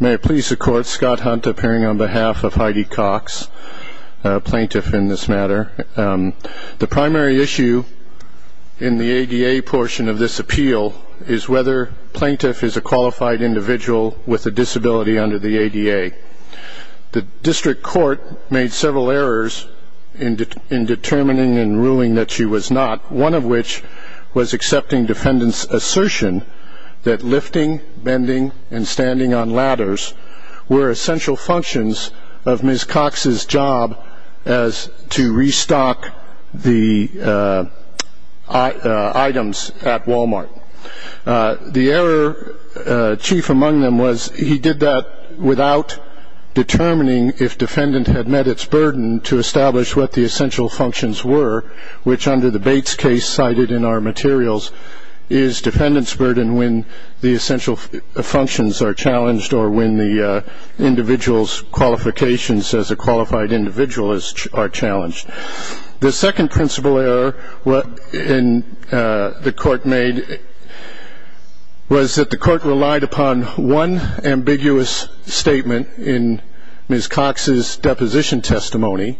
May it please the Court, Scott Hunt appearing on behalf of Heidi Cox, plaintiff in this matter. The primary issue in the ADA portion of this appeal is whether plaintiff is a qualified individual with a disability under the ADA. The District Court made several errors in determining and ruling that she was not, one of which was accepting defendant's assertion that lifting, bending, and standing on ladders were essential functions of Ms. Cox's job as to restock the items at Wal-Mart. The error, chief among them, was he did that without determining if defendant had met its burden to establish what the essential functions were, which under the Bates case cited in our materials is defendant's burden when the essential functions are challenged or when the individual's qualifications as a qualified individual are challenged. The second principal error the Court made was that the Court relied upon one ambiguous statement in Ms. Cox's deposition testimony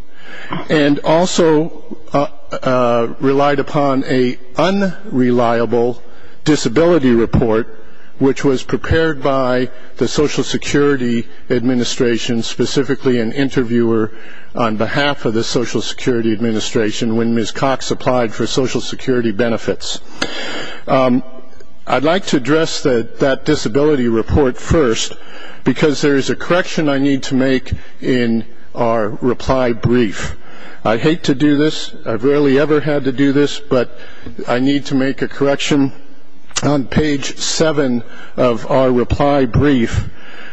and also relied upon an unreliable disability report which was prepared by the Social Security Administration, specifically an interviewer on behalf of the Social Security Administration when Ms. Cox applied for Social Security benefits. I'd like to address that disability report first because there is a correction I need to make in our reply brief. I hate to do this. I've rarely ever had to do this, but I need to make a correction. On page 7 of our reply brief,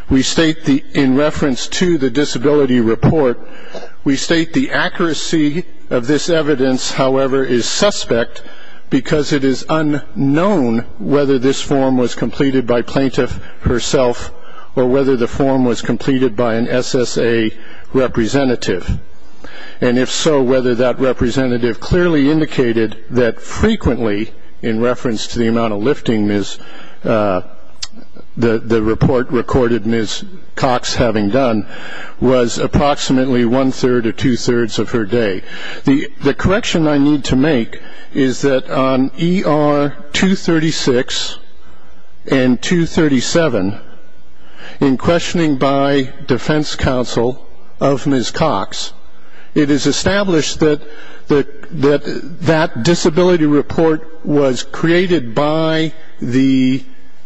we state in reference to the disability report, we state the accuracy of this evidence, however, is suspect because it is unknown whether this form was completed by plaintiff herself or whether the form was completed by an SSA representative, and if so, whether that representative clearly indicated that frequently, in reference to the amount of lifting the report recorded Ms. Cox having done, was approximately one-third or two-thirds of her day. The correction I need to make is that on ER 236 and 237, in questioning by defense counsel of Ms. Cox, it is established that that disability report was created by the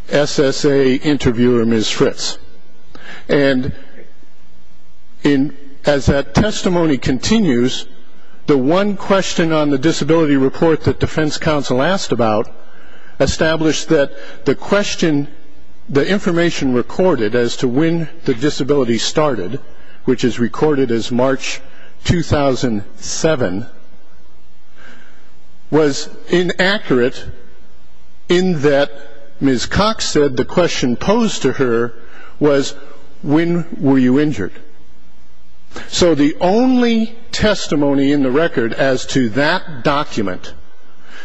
SSA interviewer, Ms. Fritz. And as that testimony continues, the one question on the disability report that defense counsel asked about established that the question, the information recorded as to when the disability started, which is recorded as March 2007, was inaccurate in that Ms. Cox said the question posed to her was, when were you injured? So the only testimony in the record as to that document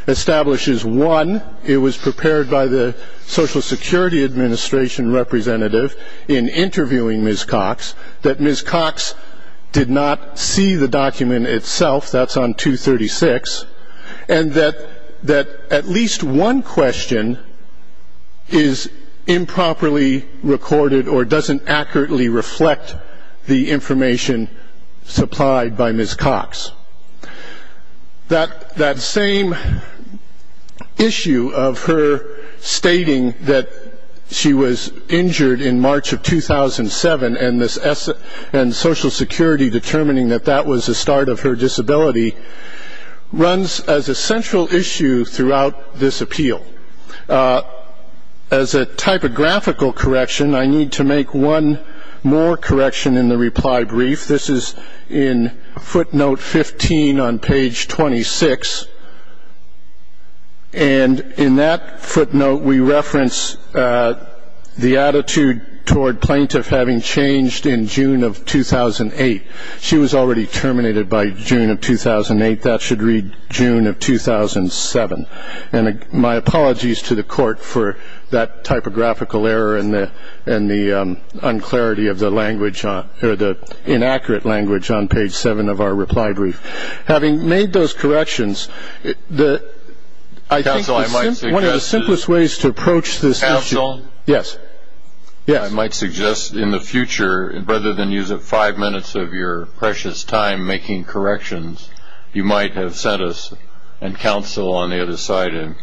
establishes, one, it was prepared by the Social Security Administration representative in interviewing Ms. Cox, that Ms. Cox did not see the document itself, that's on 236, and that at least one question is improperly recorded or doesn't accurately reflect the information supplied by Ms. Cox. That same issue of her stating that she was injured in March of 2007 and Social Security determining that that was the start of her disability runs as a central issue throughout this appeal. As a typographical correction, I need to make one more correction in the reply brief. This is in footnote 15 on page 26, and in that footnote we reference the attitude toward plaintiff having changed in June of 2008. She was already terminated by June of 2008. That should read June of 2007. And my apologies to the court for that typographical error and the unclarity of the language or the inaccurate language on page 7 of our reply brief. Having made those corrections, I think one of the simplest ways to approach this issue. Counsel, I might suggest in the future, rather than use up five minutes of your precious time making corrections, you might have sent us and counsel on the other side a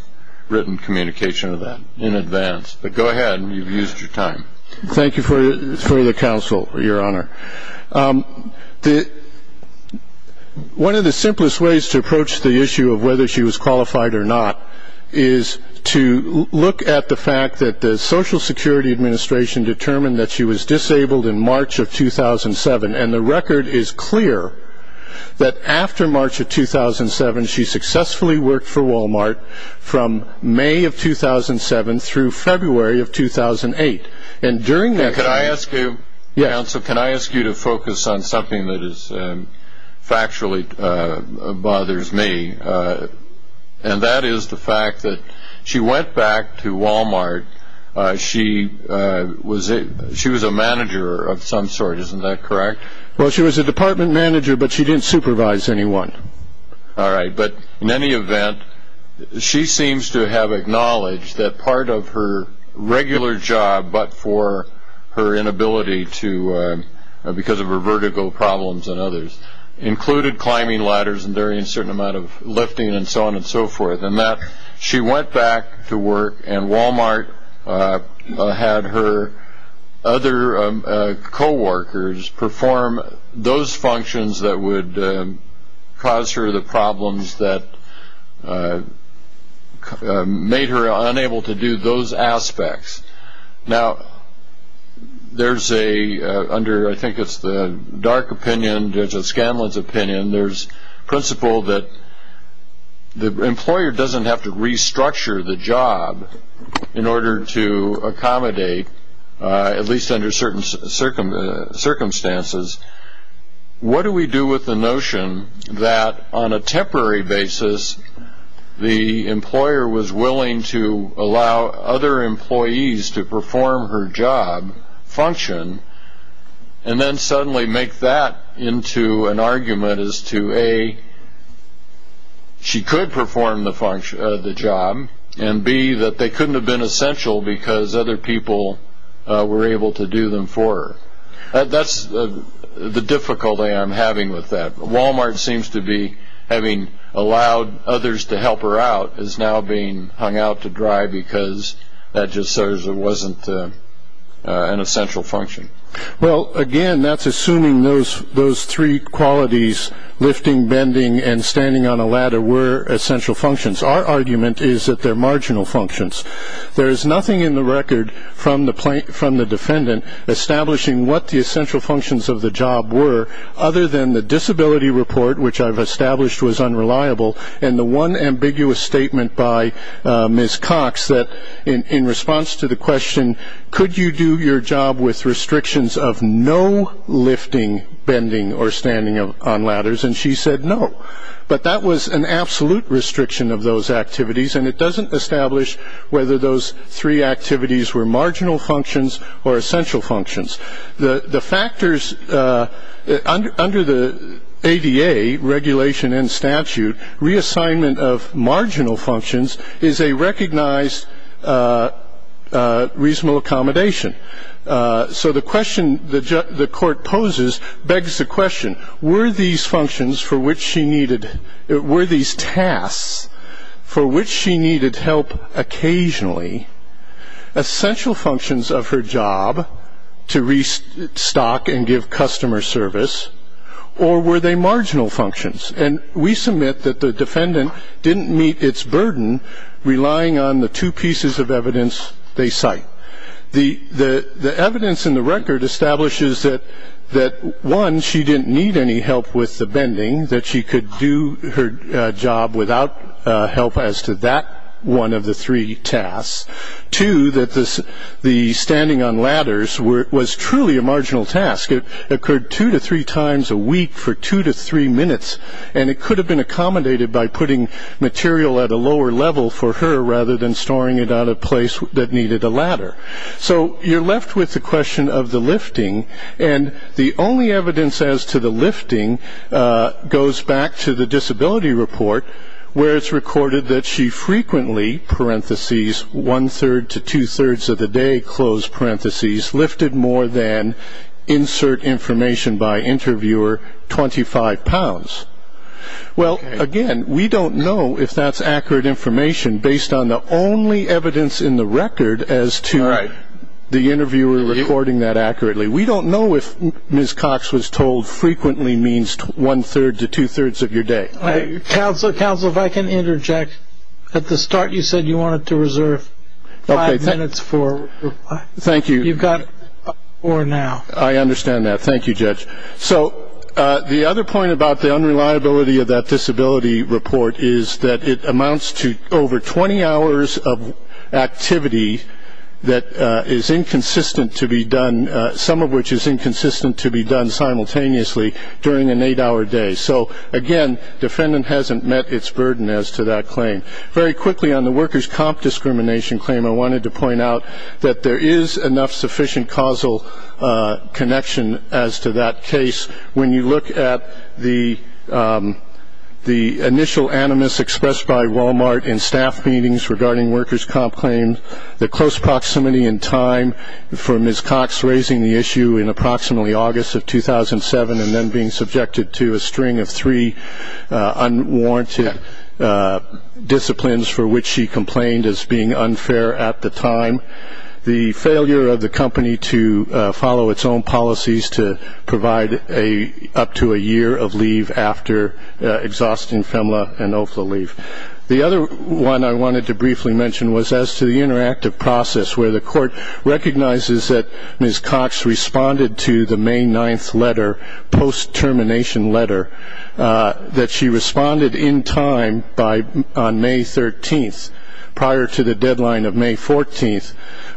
written communication of that in advance. But go ahead, you've used your time. Thank you for the counsel, Your Honor. One of the simplest ways to approach the issue of whether she was qualified or not is to look at the fact that the Social Security Administration determined that she was disabled in March of 2007, and the record is clear that after March of 2007, she successfully worked for Walmart from May of 2007 through February of 2008. Counsel, can I ask you to focus on something that factually bothers me? And that is the fact that she went back to Walmart. She was a manager of some sort, isn't that correct? Well, she was a department manager, but she didn't supervise anyone. All right, but in any event, she seems to have acknowledged that part of her regular job, but for her inability because of her vertigo problems and others, included climbing ladders and doing a certain amount of lifting and so on and so forth, and that she went back to work, and Walmart had her other co-workers perform those functions that would cause her the problems that made her unable to do those aspects. Now, there's a, under, I think it's the Dark opinion, there's a Scanlon's opinion, there's principle that the employer doesn't have to restructure the job in order to accommodate, at least under certain circumstances. What do we do with the notion that on a temporary basis, the employer was willing to allow other employees to perform her job function, and then suddenly make that into an argument as to, A, she could perform the job, and B, that they couldn't have been essential because other people were able to do them for her. That's the difficulty I'm having with that. Walmart seems to be, having allowed others to help her out, is now being hung out to dry because that just serves or wasn't an essential function. Well, again, that's assuming those three qualities, lifting, bending, and standing on a ladder were essential functions. Our argument is that they're marginal functions. There is nothing in the record from the defendant establishing what the essential functions of the job were, other than the disability report, which I've established was unreliable, and the one ambiguous statement by Ms. Cox that in response to the question, could you do your job with restrictions of no lifting, bending, or standing on ladders, and she said no. But that was an absolute restriction of those activities, and it doesn't establish whether those three activities were marginal functions or essential functions. The factors under the ADA regulation and statute, reassignment of marginal functions, is a recognized reasonable accommodation. So the question the court poses begs the question, were these functions for which she needed, were these tasks for which she needed help occasionally, essential functions of her job to restock and give customer service, or were they marginal functions? And we submit that the defendant didn't meet its burden relying on the two pieces of evidence they cite. The evidence in the record establishes that, one, she didn't need any help with the bending, that she could do her job without help as to that one of the three tasks. Two, that the standing on ladders was truly a marginal task. It occurred two to three times a week for two to three minutes, and it could have been accommodated by putting material at a lower level for her rather than storing it on a place that needed a ladder. So you're left with the question of the lifting, and the only evidence as to the lifting goes back to the disability report where it's recorded that she frequently, one-third to two-thirds of the day, lifted more than, insert information by interviewer, 25 pounds. Well, again, we don't know if that's accurate information based on the only evidence in the record as to the interviewer reporting that accurately. We don't know if Ms. Cox was told frequently means one-third to two-thirds of your day. Counselor, counselor, if I can interject. At the start you said you wanted to reserve five minutes for reply. Thank you. You've got four now. I understand that. Thank you, Judge. So the other point about the unreliability of that disability report is that it amounts to over 20 hours of activity that is inconsistent to be done, some of which is inconsistent to be done simultaneously during an eight-hour day. So, again, defendant hasn't met its burden as to that claim. Very quickly on the workers' comp discrimination claim, I wanted to point out that there is enough sufficient causal connection as to that case. When you look at the initial animus expressed by Walmart in staff meetings regarding workers' comp claims, the close proximity in time for Ms. Cox raising the issue in approximately August of 2007 and then being subjected to a string of three unwarranted disciplines for which she complained as being unfair at the time, the failure of the company to follow its own policies to provide up to a year of leave after exhausting FEMLA and OFLA leave. The other one I wanted to briefly mention was as to the interactive process where the court recognizes that Ms. Cox responded to the May 9th letter, post-termination letter, that she responded in time on May 13th prior to the deadline of May 14th,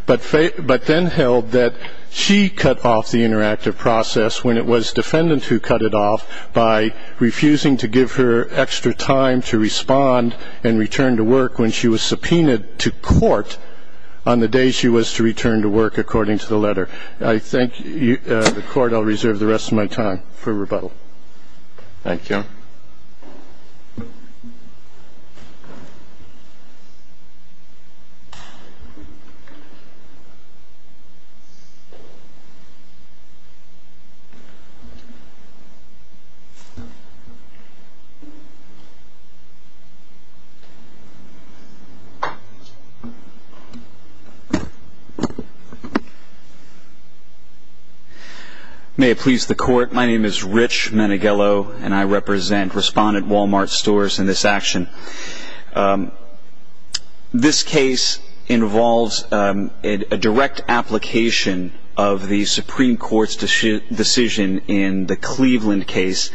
but then held that she cut off the interactive process when it was defendant who cut it off by refusing to give her extra time to respond and return to work when she was subpoenaed to court on the day she was to return to work according to the letter. I thank the Court. I'll reserve the rest of my time for rebuttal. Thank you. May it please the Court. My name is Rich Menighello and I represent Respondent Walmart Stores in this action. This case involves a direct application of the Supreme Court's decision in the Cleveland case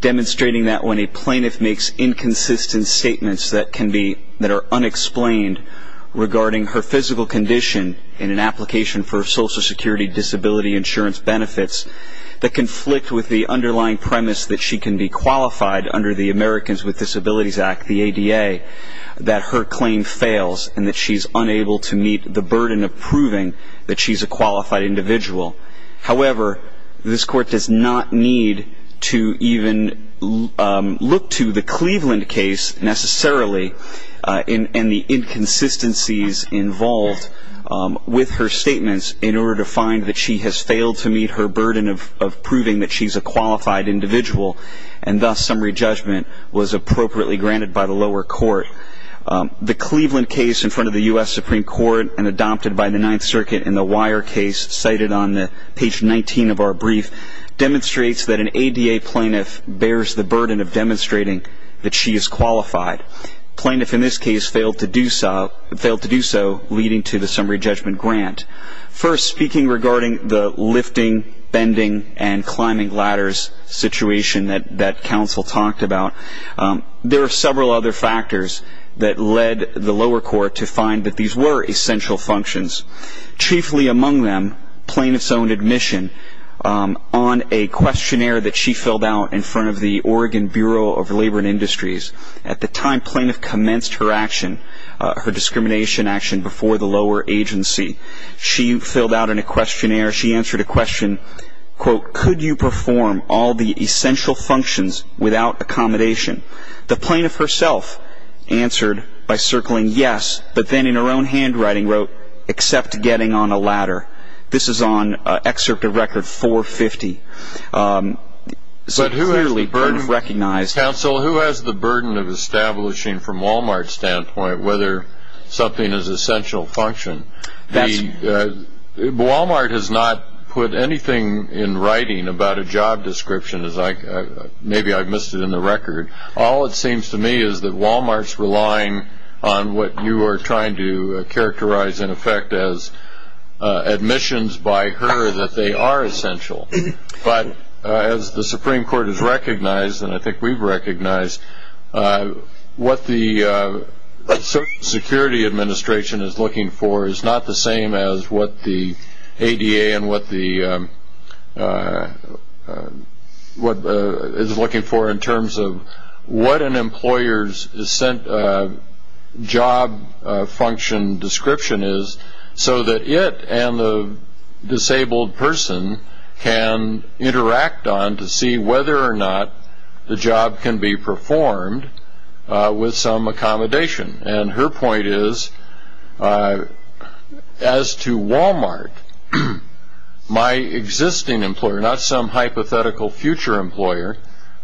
demonstrating that when a plaintiff makes inconsistent statements that are unexplained regarding her physical condition in an application for Social Security Disability Insurance benefits that conflict with the underlying premise that she can be qualified under the Americans with Disabilities Act, the ADA, that her claim fails and that she's unable to meet the burden of proving that she's a qualified individual. However, this Court does not need to even look to the Cleveland case necessarily and the inconsistencies involved with her statements in order to find that she has failed to meet her burden of proving that she's a qualified individual and thus summary judgment was appropriately granted by the lower court. The Cleveland case in front of the U.S. Supreme Court and adopted by the Ninth Circuit in the Wire case cited on page 19 of our brief demonstrates that an ADA plaintiff bears the burden of demonstrating that she is qualified. The plaintiff in this case failed to do so leading to the summary judgment grant. First, speaking regarding the lifting, bending, and climbing ladders situation that counsel talked about, there are several other factors that led the lower court to find that these were essential functions. Chiefly among them, plaintiff's own admission on a questionnaire that she filled out in front of the Oregon Bureau of Labor and Industries. At the time, plaintiff commenced her action, her discrimination action before the lower agency. She filled out in a questionnaire, she answered a question, quote, could you perform all the essential functions without accommodation? The plaintiff herself answered by circling yes, but then in her own handwriting wrote, except getting on a ladder. This is on excerpt of record 450. But who has the burden? Counsel, who has the burden of establishing from Wal-Mart's standpoint whether something is essential function? Wal-Mart has not put anything in writing about a job description. Maybe I've missed it in the record. All it seems to me is that Wal-Mart's relying on what you are trying to characterize in effect as admissions by her that they are essential. But as the Supreme Court has recognized, and I think we've recognized, what the Security Administration is looking for is not the same as what the ADA and what it is looking for in terms of what an employer's job function description is, so that it and the disabled person can interact on to see whether or not the job can be performed with some accommodation. And her point is, as to Wal-Mart, my existing employer, not some hypothetical future employer,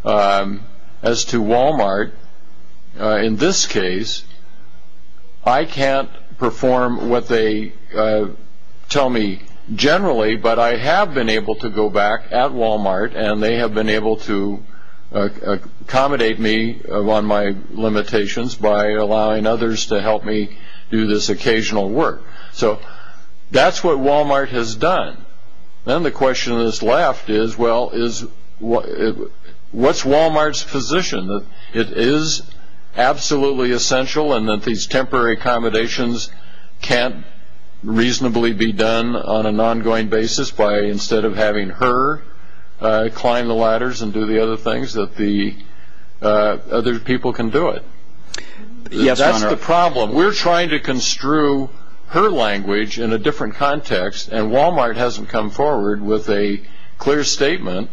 as to Wal-Mart, in this case, I can't perform what they tell me generally, but I have been able to go back at Wal-Mart, and they have been able to accommodate me on my limitations by allowing others to help me do this occasional work. So that's what Wal-Mart has done. Then the question that is left is, well, what's Wal-Mart's position? It is absolutely essential and that these temporary accommodations can't reasonably be done on an ongoing basis by instead of having her climb the ladders and do the other things, that the other people can do it. That's the problem. We're trying to construe her language in a different context, and Wal-Mart hasn't come forward with a clear statement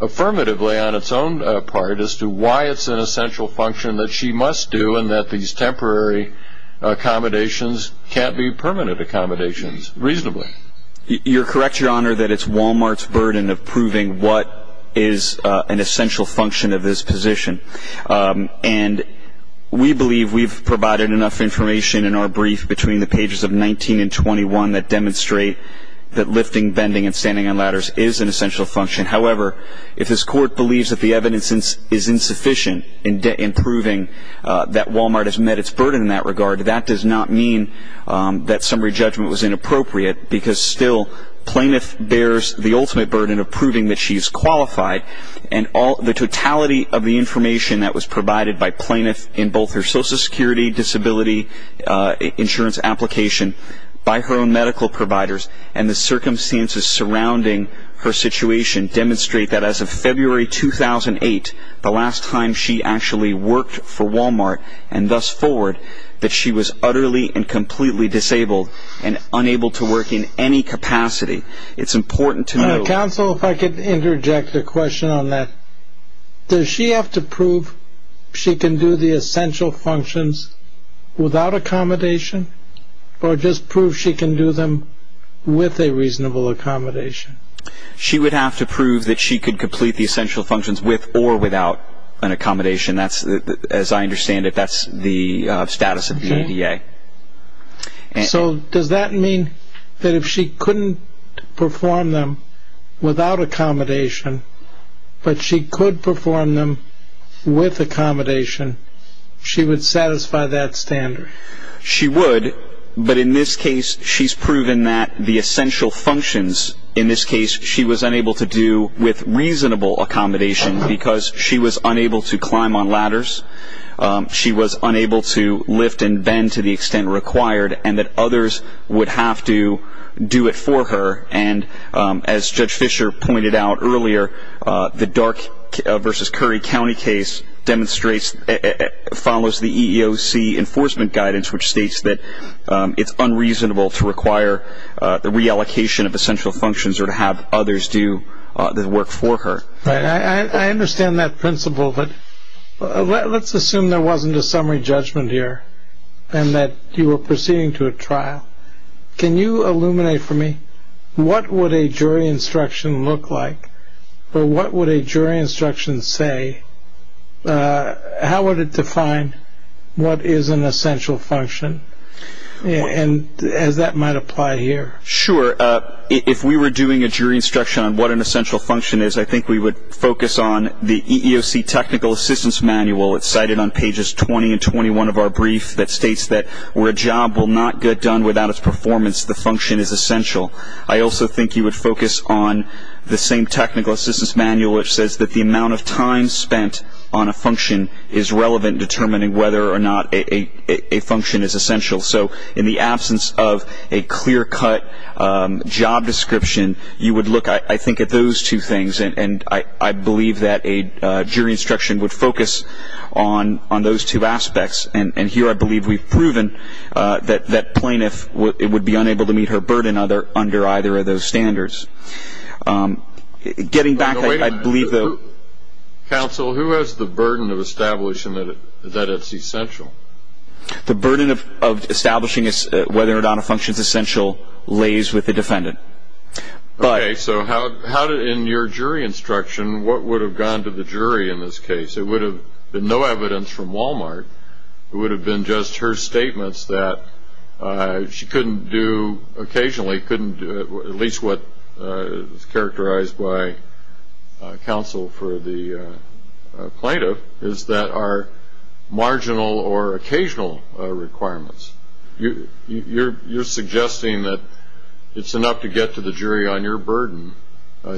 affirmatively on its own part as to why it's an essential function that she must do given that these temporary accommodations can't be permanent accommodations reasonably. You're correct, Your Honor, that it's Wal-Mart's burden of proving what is an essential function of this position. And we believe we've provided enough information in our brief between the pages of 19 and 21 that demonstrate that lifting, bending, and standing on ladders is an essential function. However, if this Court believes that the evidence is insufficient in proving that Wal-Mart has met its burden in that regard, that does not mean that summary judgment was inappropriate because still plaintiff bears the ultimate burden of proving that she is qualified. And the totality of the information that was provided by plaintiff in both her Social Security Disability Insurance application by her own medical providers and the circumstances surrounding her situation demonstrate that as of February 2008, the last time she actually worked for Wal-Mart and thus forward, that she was utterly and completely disabled and unable to work in any capacity. It's important to know... Counsel, if I could interject a question on that. Does she have to prove she can do the essential functions without accommodation or just prove she can do them with a reasonable accommodation? She would have to prove that she could complete the essential functions with or without an accommodation. As I understand it, that's the status of the ADA. So does that mean that if she couldn't perform them without accommodation but she could perform them with accommodation, she would satisfy that standard? She would, but in this case she's proven that the essential functions, in this case she was unable to do with reasonable accommodation because she was unable to climb on ladders, she was unable to lift and bend to the extent required, and that others would have to do it for her. And as Judge Fisher pointed out earlier, the Dark v. Curry County case follows the EEOC enforcement guidance which states that it's unreasonable to require the reallocation of essential functions or to have others do the work for her. I understand that principle, but let's assume there wasn't a summary judgment here and that you were proceeding to a trial. Can you illuminate for me what would a jury instruction look like or what would a jury instruction say? How would it define what is an essential function as that might apply here? Sure. If we were doing a jury instruction on what an essential function is, I think we would focus on the EEOC Technical Assistance Manual. It's cited on pages 20 and 21 of our brief that states that where a job will not get done without its performance, the function is essential. I also think you would focus on the same Technical Assistance Manual which says that the amount of time spent on a function is relevant determining whether or not a function is essential. So in the absence of a clear-cut job description, you would look, I think, at those two things, and here I believe we've proven that plaintiff would be unable to meet her burden under either of those standards. Getting back, I believe the – Wait a minute. Counsel, who has the burden of establishing that it's essential? The burden of establishing whether or not a function is essential lays with the defendant. Okay. So in your jury instruction, what would have gone to the jury in this case? It would have been no evidence from Walmart. It would have been just her statements that she couldn't do occasionally, couldn't do at least what is characterized by counsel for the plaintiff, is that are marginal or occasional requirements. You're suggesting that it's enough to get to the jury on your burden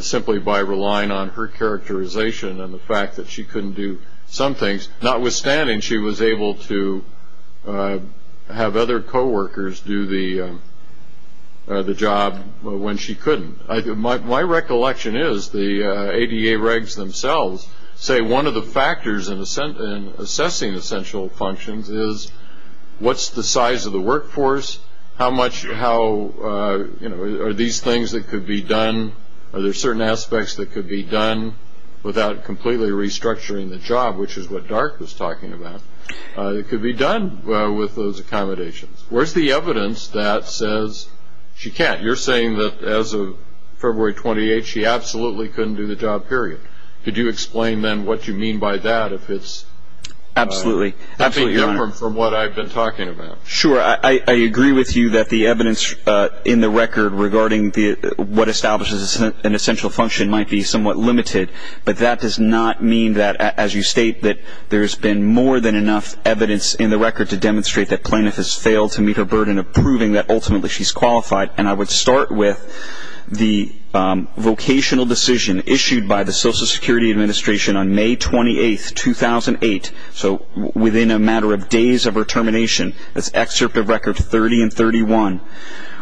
simply by relying on her characterization and the fact that she couldn't do some things, notwithstanding she was able to have other coworkers do the job when she couldn't. My recollection is the ADA regs themselves say one of the factors in assessing essential functions is what's the size of the workforce, how much – are these things that could be done, are there certain aspects that could be done without completely restructuring the job, which is what Dark was talking about. It could be done with those accommodations. Where's the evidence that says she can't? You're saying that as of February 28th, she absolutely couldn't do the job, period. Could you explain then what you mean by that if it's – Absolutely. I think different from what I've been talking about. Sure. I agree with you that the evidence in the record regarding what establishes an essential function might be somewhat limited, but that does not mean that as you state that there's been more than enough evidence in the record to demonstrate that plaintiff has failed to meet her burden of proving that ultimately she's qualified. And I would start with the vocational decision issued by the Social Security Administration on May 28th, 2008. So within a matter of days of her termination, that's excerpt of record 30 and 31,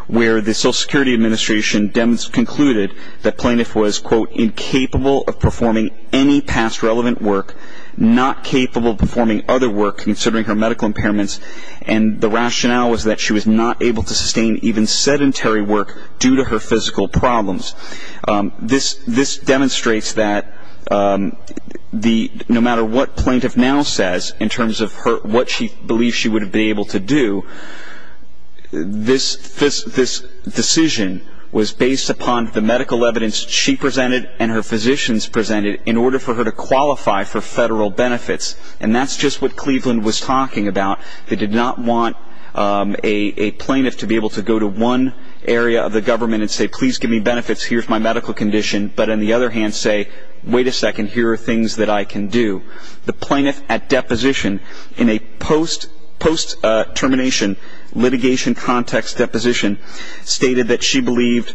where the Social Security Administration concluded that plaintiff was, quote, incapable of performing any past relevant work, not capable of performing other work considering her medical impairments, and the rationale was that she was not able to sustain even sedentary work due to her physical problems. This demonstrates that no matter what plaintiff now says in terms of what she believes she would have been able to do, this decision was based upon the medical evidence she presented and her physicians presented in order for her to qualify for federal benefits. And that's just what Cleveland was talking about. They did not want a plaintiff to be able to go to one area of the government and say, please give me benefits, here's my medical condition, but on the other hand say, wait a second, here are things that I can do. The plaintiff at deposition in a post-termination litigation context deposition stated that she believed,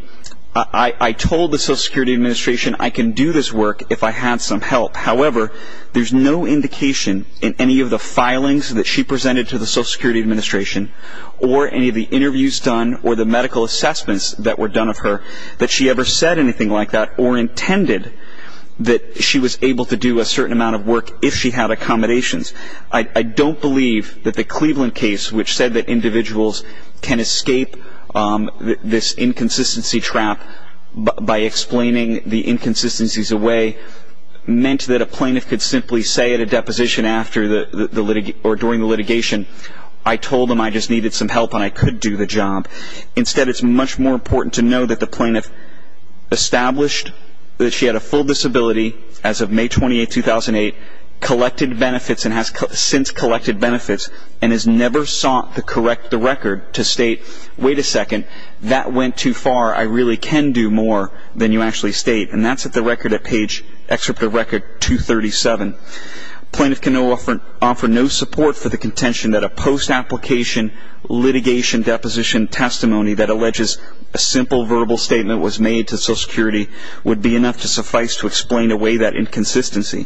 I told the Social Security Administration I can do this work if I had some help. However, there's no indication in any of the filings that she presented to the Social Security Administration or any of the interviews done or the medical assessments that were done of her that she ever said anything like that or intended that she was able to do a certain amount of work if she had accommodations. I don't believe that the Cleveland case, which said that individuals can escape this inconsistency trap by explaining the inconsistencies away, meant that a plaintiff could simply say at a deposition or during the litigation, I told them I just needed some help and I could do the job. Instead, it's much more important to know that the plaintiff established that she had a full disability as of May 28, 2008, collected benefits and has since collected benefits and has never sought to correct the record to state, wait a second, that went too far. I really can do more than you actually state. And that's at the record at page, excerpt of record 237. Plaintiff can offer no support for the contention that a post-application litigation deposition testimony that alleges a simple verbal statement was made to Social Security would be enough to suffice to explain away that inconsistency.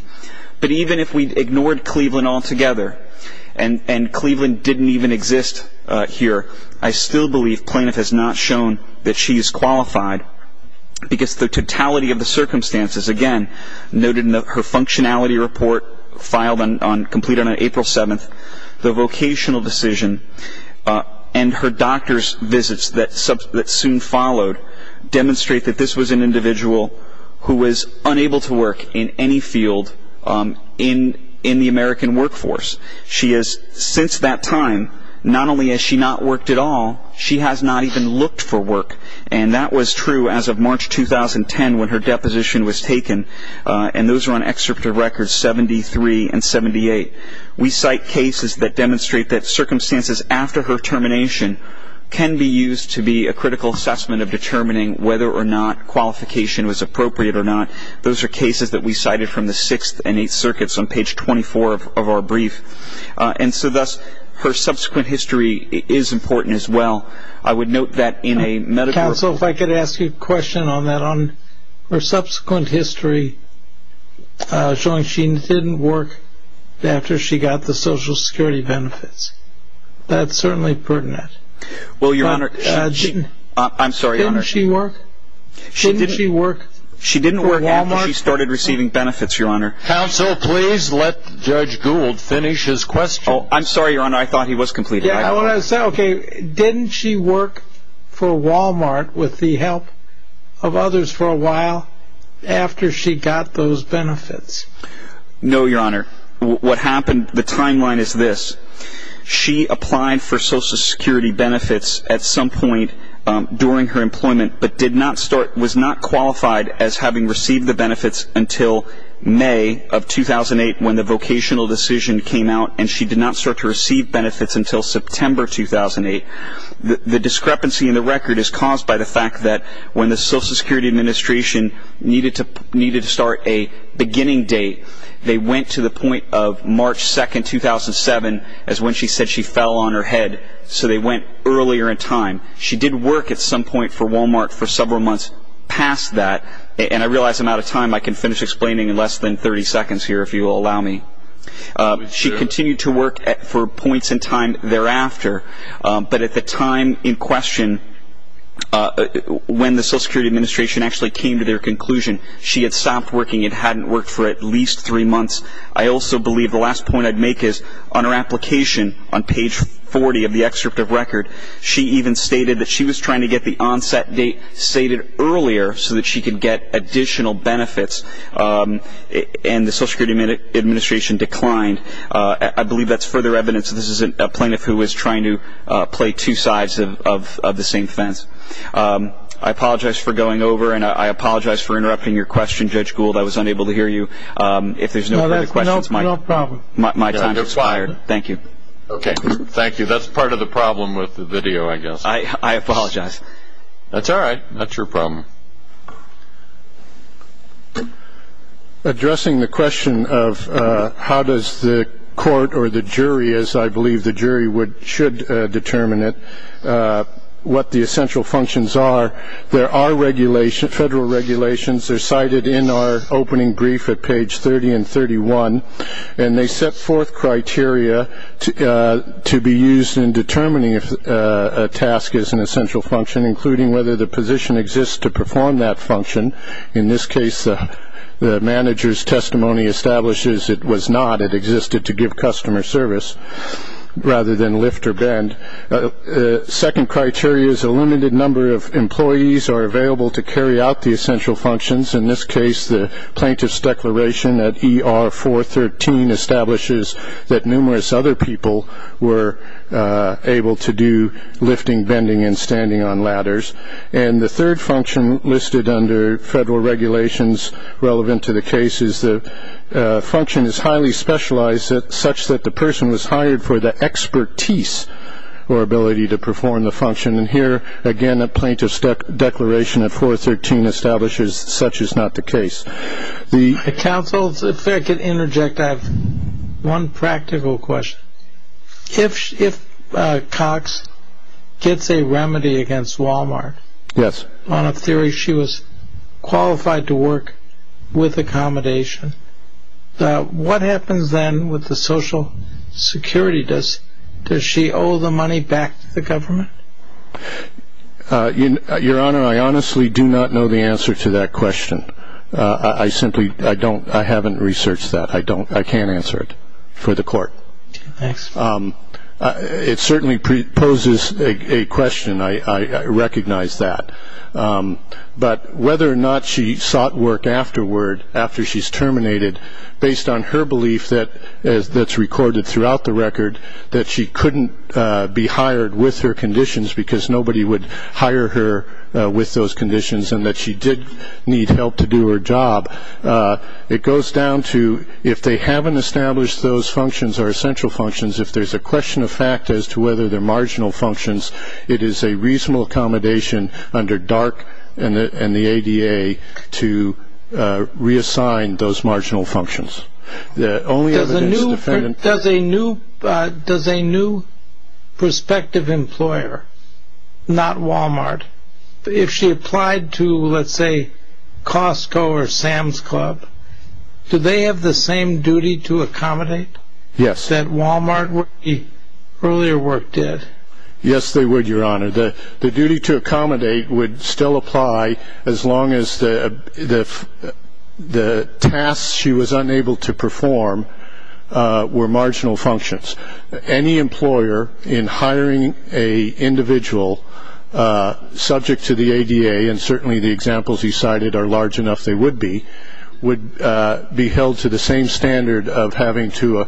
But even if we ignored Cleveland altogether and Cleveland didn't even exist here, I still believe plaintiff has not shown that she is qualified because the totality of the circumstances, again, noted in her functionality report filed and completed on April 7th, the vocational decision and her doctor's visits that soon followed demonstrate that this was an individual who was unable to work in any field in the American workforce. Since that time, not only has she not worked at all, she has not even looked for work. And that was true as of March 2010 when her deposition was taken. And those are on excerpt of records 73 and 78. We cite cases that demonstrate that circumstances after her termination can be used to be a critical assessment of determining whether or not qualification was appropriate or not. Those are cases that we cited from the Sixth and Eighth Circuits on page 24 of our brief. And so thus, her subsequent history is important as well. I would note that in a meta- Counsel, if I could ask you a question on that, on her subsequent history showing she didn't work after she got the Social Security benefits. That's certainly pertinent. Well, Your Honor, I'm sorry, Your Honor. Didn't she work? Didn't she work for Walmart? She didn't work after she started receiving benefits, Your Honor. Counsel, please let Judge Gould finish his question. Oh, I'm sorry, Your Honor. I thought he was completed. Yeah, I want to say, okay, didn't she work for Walmart with the help of others for a while after she got those benefits? No, Your Honor. What happened, the timeline is this. She applied for Social Security benefits at some point during her employment but was not qualified as having received the benefits until May of 2008 when the vocational decision came out, and she did not start to receive benefits until September 2008. The discrepancy in the record is caused by the fact that when the Social Security Administration needed to start a beginning date, they went to the point of March 2, 2007, is when she said she fell on her head. So they went earlier in time. She did work at some point for Walmart for several months past that, and I realize I'm out of time. I can finish explaining in less than 30 seconds here if you will allow me. She continued to work for points in time thereafter, but at the time in question when the Social Security Administration actually came to their conclusion, she had stopped working and hadn't worked for at least three months. I also believe the last point I'd make is on her application on page 40 of the excerpt of record, she even stated that she was trying to get the onset date stated earlier so that she could get additional benefits, and the Social Security Administration declined. I believe that's further evidence that this is a plaintiff who was trying to play two sides of the same fence. I apologize for going over, and I apologize for interrupting your question, Judge Gould. I was unable to hear you. If there's no further questions, my time has expired. Thank you. Okay, thank you. That's part of the problem with the video, I guess. I apologize. That's all right. Not your problem. Addressing the question of how does the court or the jury, as I believe the jury should determine it, what the essential functions are, there are federal regulations. They're cited in our opening brief at page 30 and 31, and they set forth criteria to be used in determining if a task is an essential function, including whether the position exists to perform that function. In this case, the manager's testimony establishes it was not. It existed to give customer service rather than lift or bend. Second criteria is a limited number of employees are available to carry out the essential functions. In this case, the plaintiff's declaration at ER 413 establishes that numerous other people were able to do lifting, bending, and standing on ladders. And the third function listed under federal regulations relevant to the case is the function is highly specialized such that the person was hired for the expertise or ability to perform the function. And here, again, a plaintiff's declaration at 413 establishes such is not the case. Counsel, if I could interject, I have one practical question. If Cox gets a remedy against Walmart on a theory she was qualified to work with accommodation, what happens then with the Social Security? Does she owe the money back to the government? Your Honor, I honestly do not know the answer to that question. I simply don't. I haven't researched that. I can't answer it for the court. It certainly poses a question. I recognize that. But whether or not she sought work afterward after she's terminated, based on her belief that's recorded throughout the record that she couldn't be hired with her conditions because nobody would hire her with those conditions and that she did need help to do her job, it goes down to if they haven't established those functions or essential functions, if there's a question of fact as to whether they're marginal functions, it is a reasonable accommodation under DARK and the ADA to reassign those marginal functions. Does a new prospective employer, not Walmart, if she applied to, let's say, Costco or Sam's Club, do they have the same duty to accommodate that Walmart, the earlier work, did? Yes, they would, Your Honor. The duty to accommodate would still apply as long as the tasks she was unable to perform were marginal functions. Any employer in hiring an individual subject to the ADA, and certainly the examples you cited are large enough they would be, would be held to the same standard of having to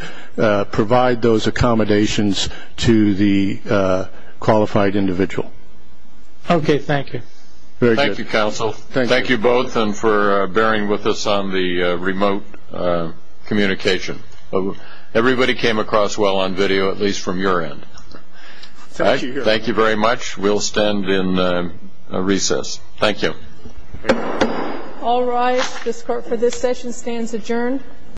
provide those accommodations to the qualified individual. Okay, thank you. Thank you, counsel. Thank you both and for bearing with us on the remote communication. Everybody came across well on video, at least from your end. Thank you very much. We'll stand in recess. Thank you. All rise. This court for this session stands adjourned.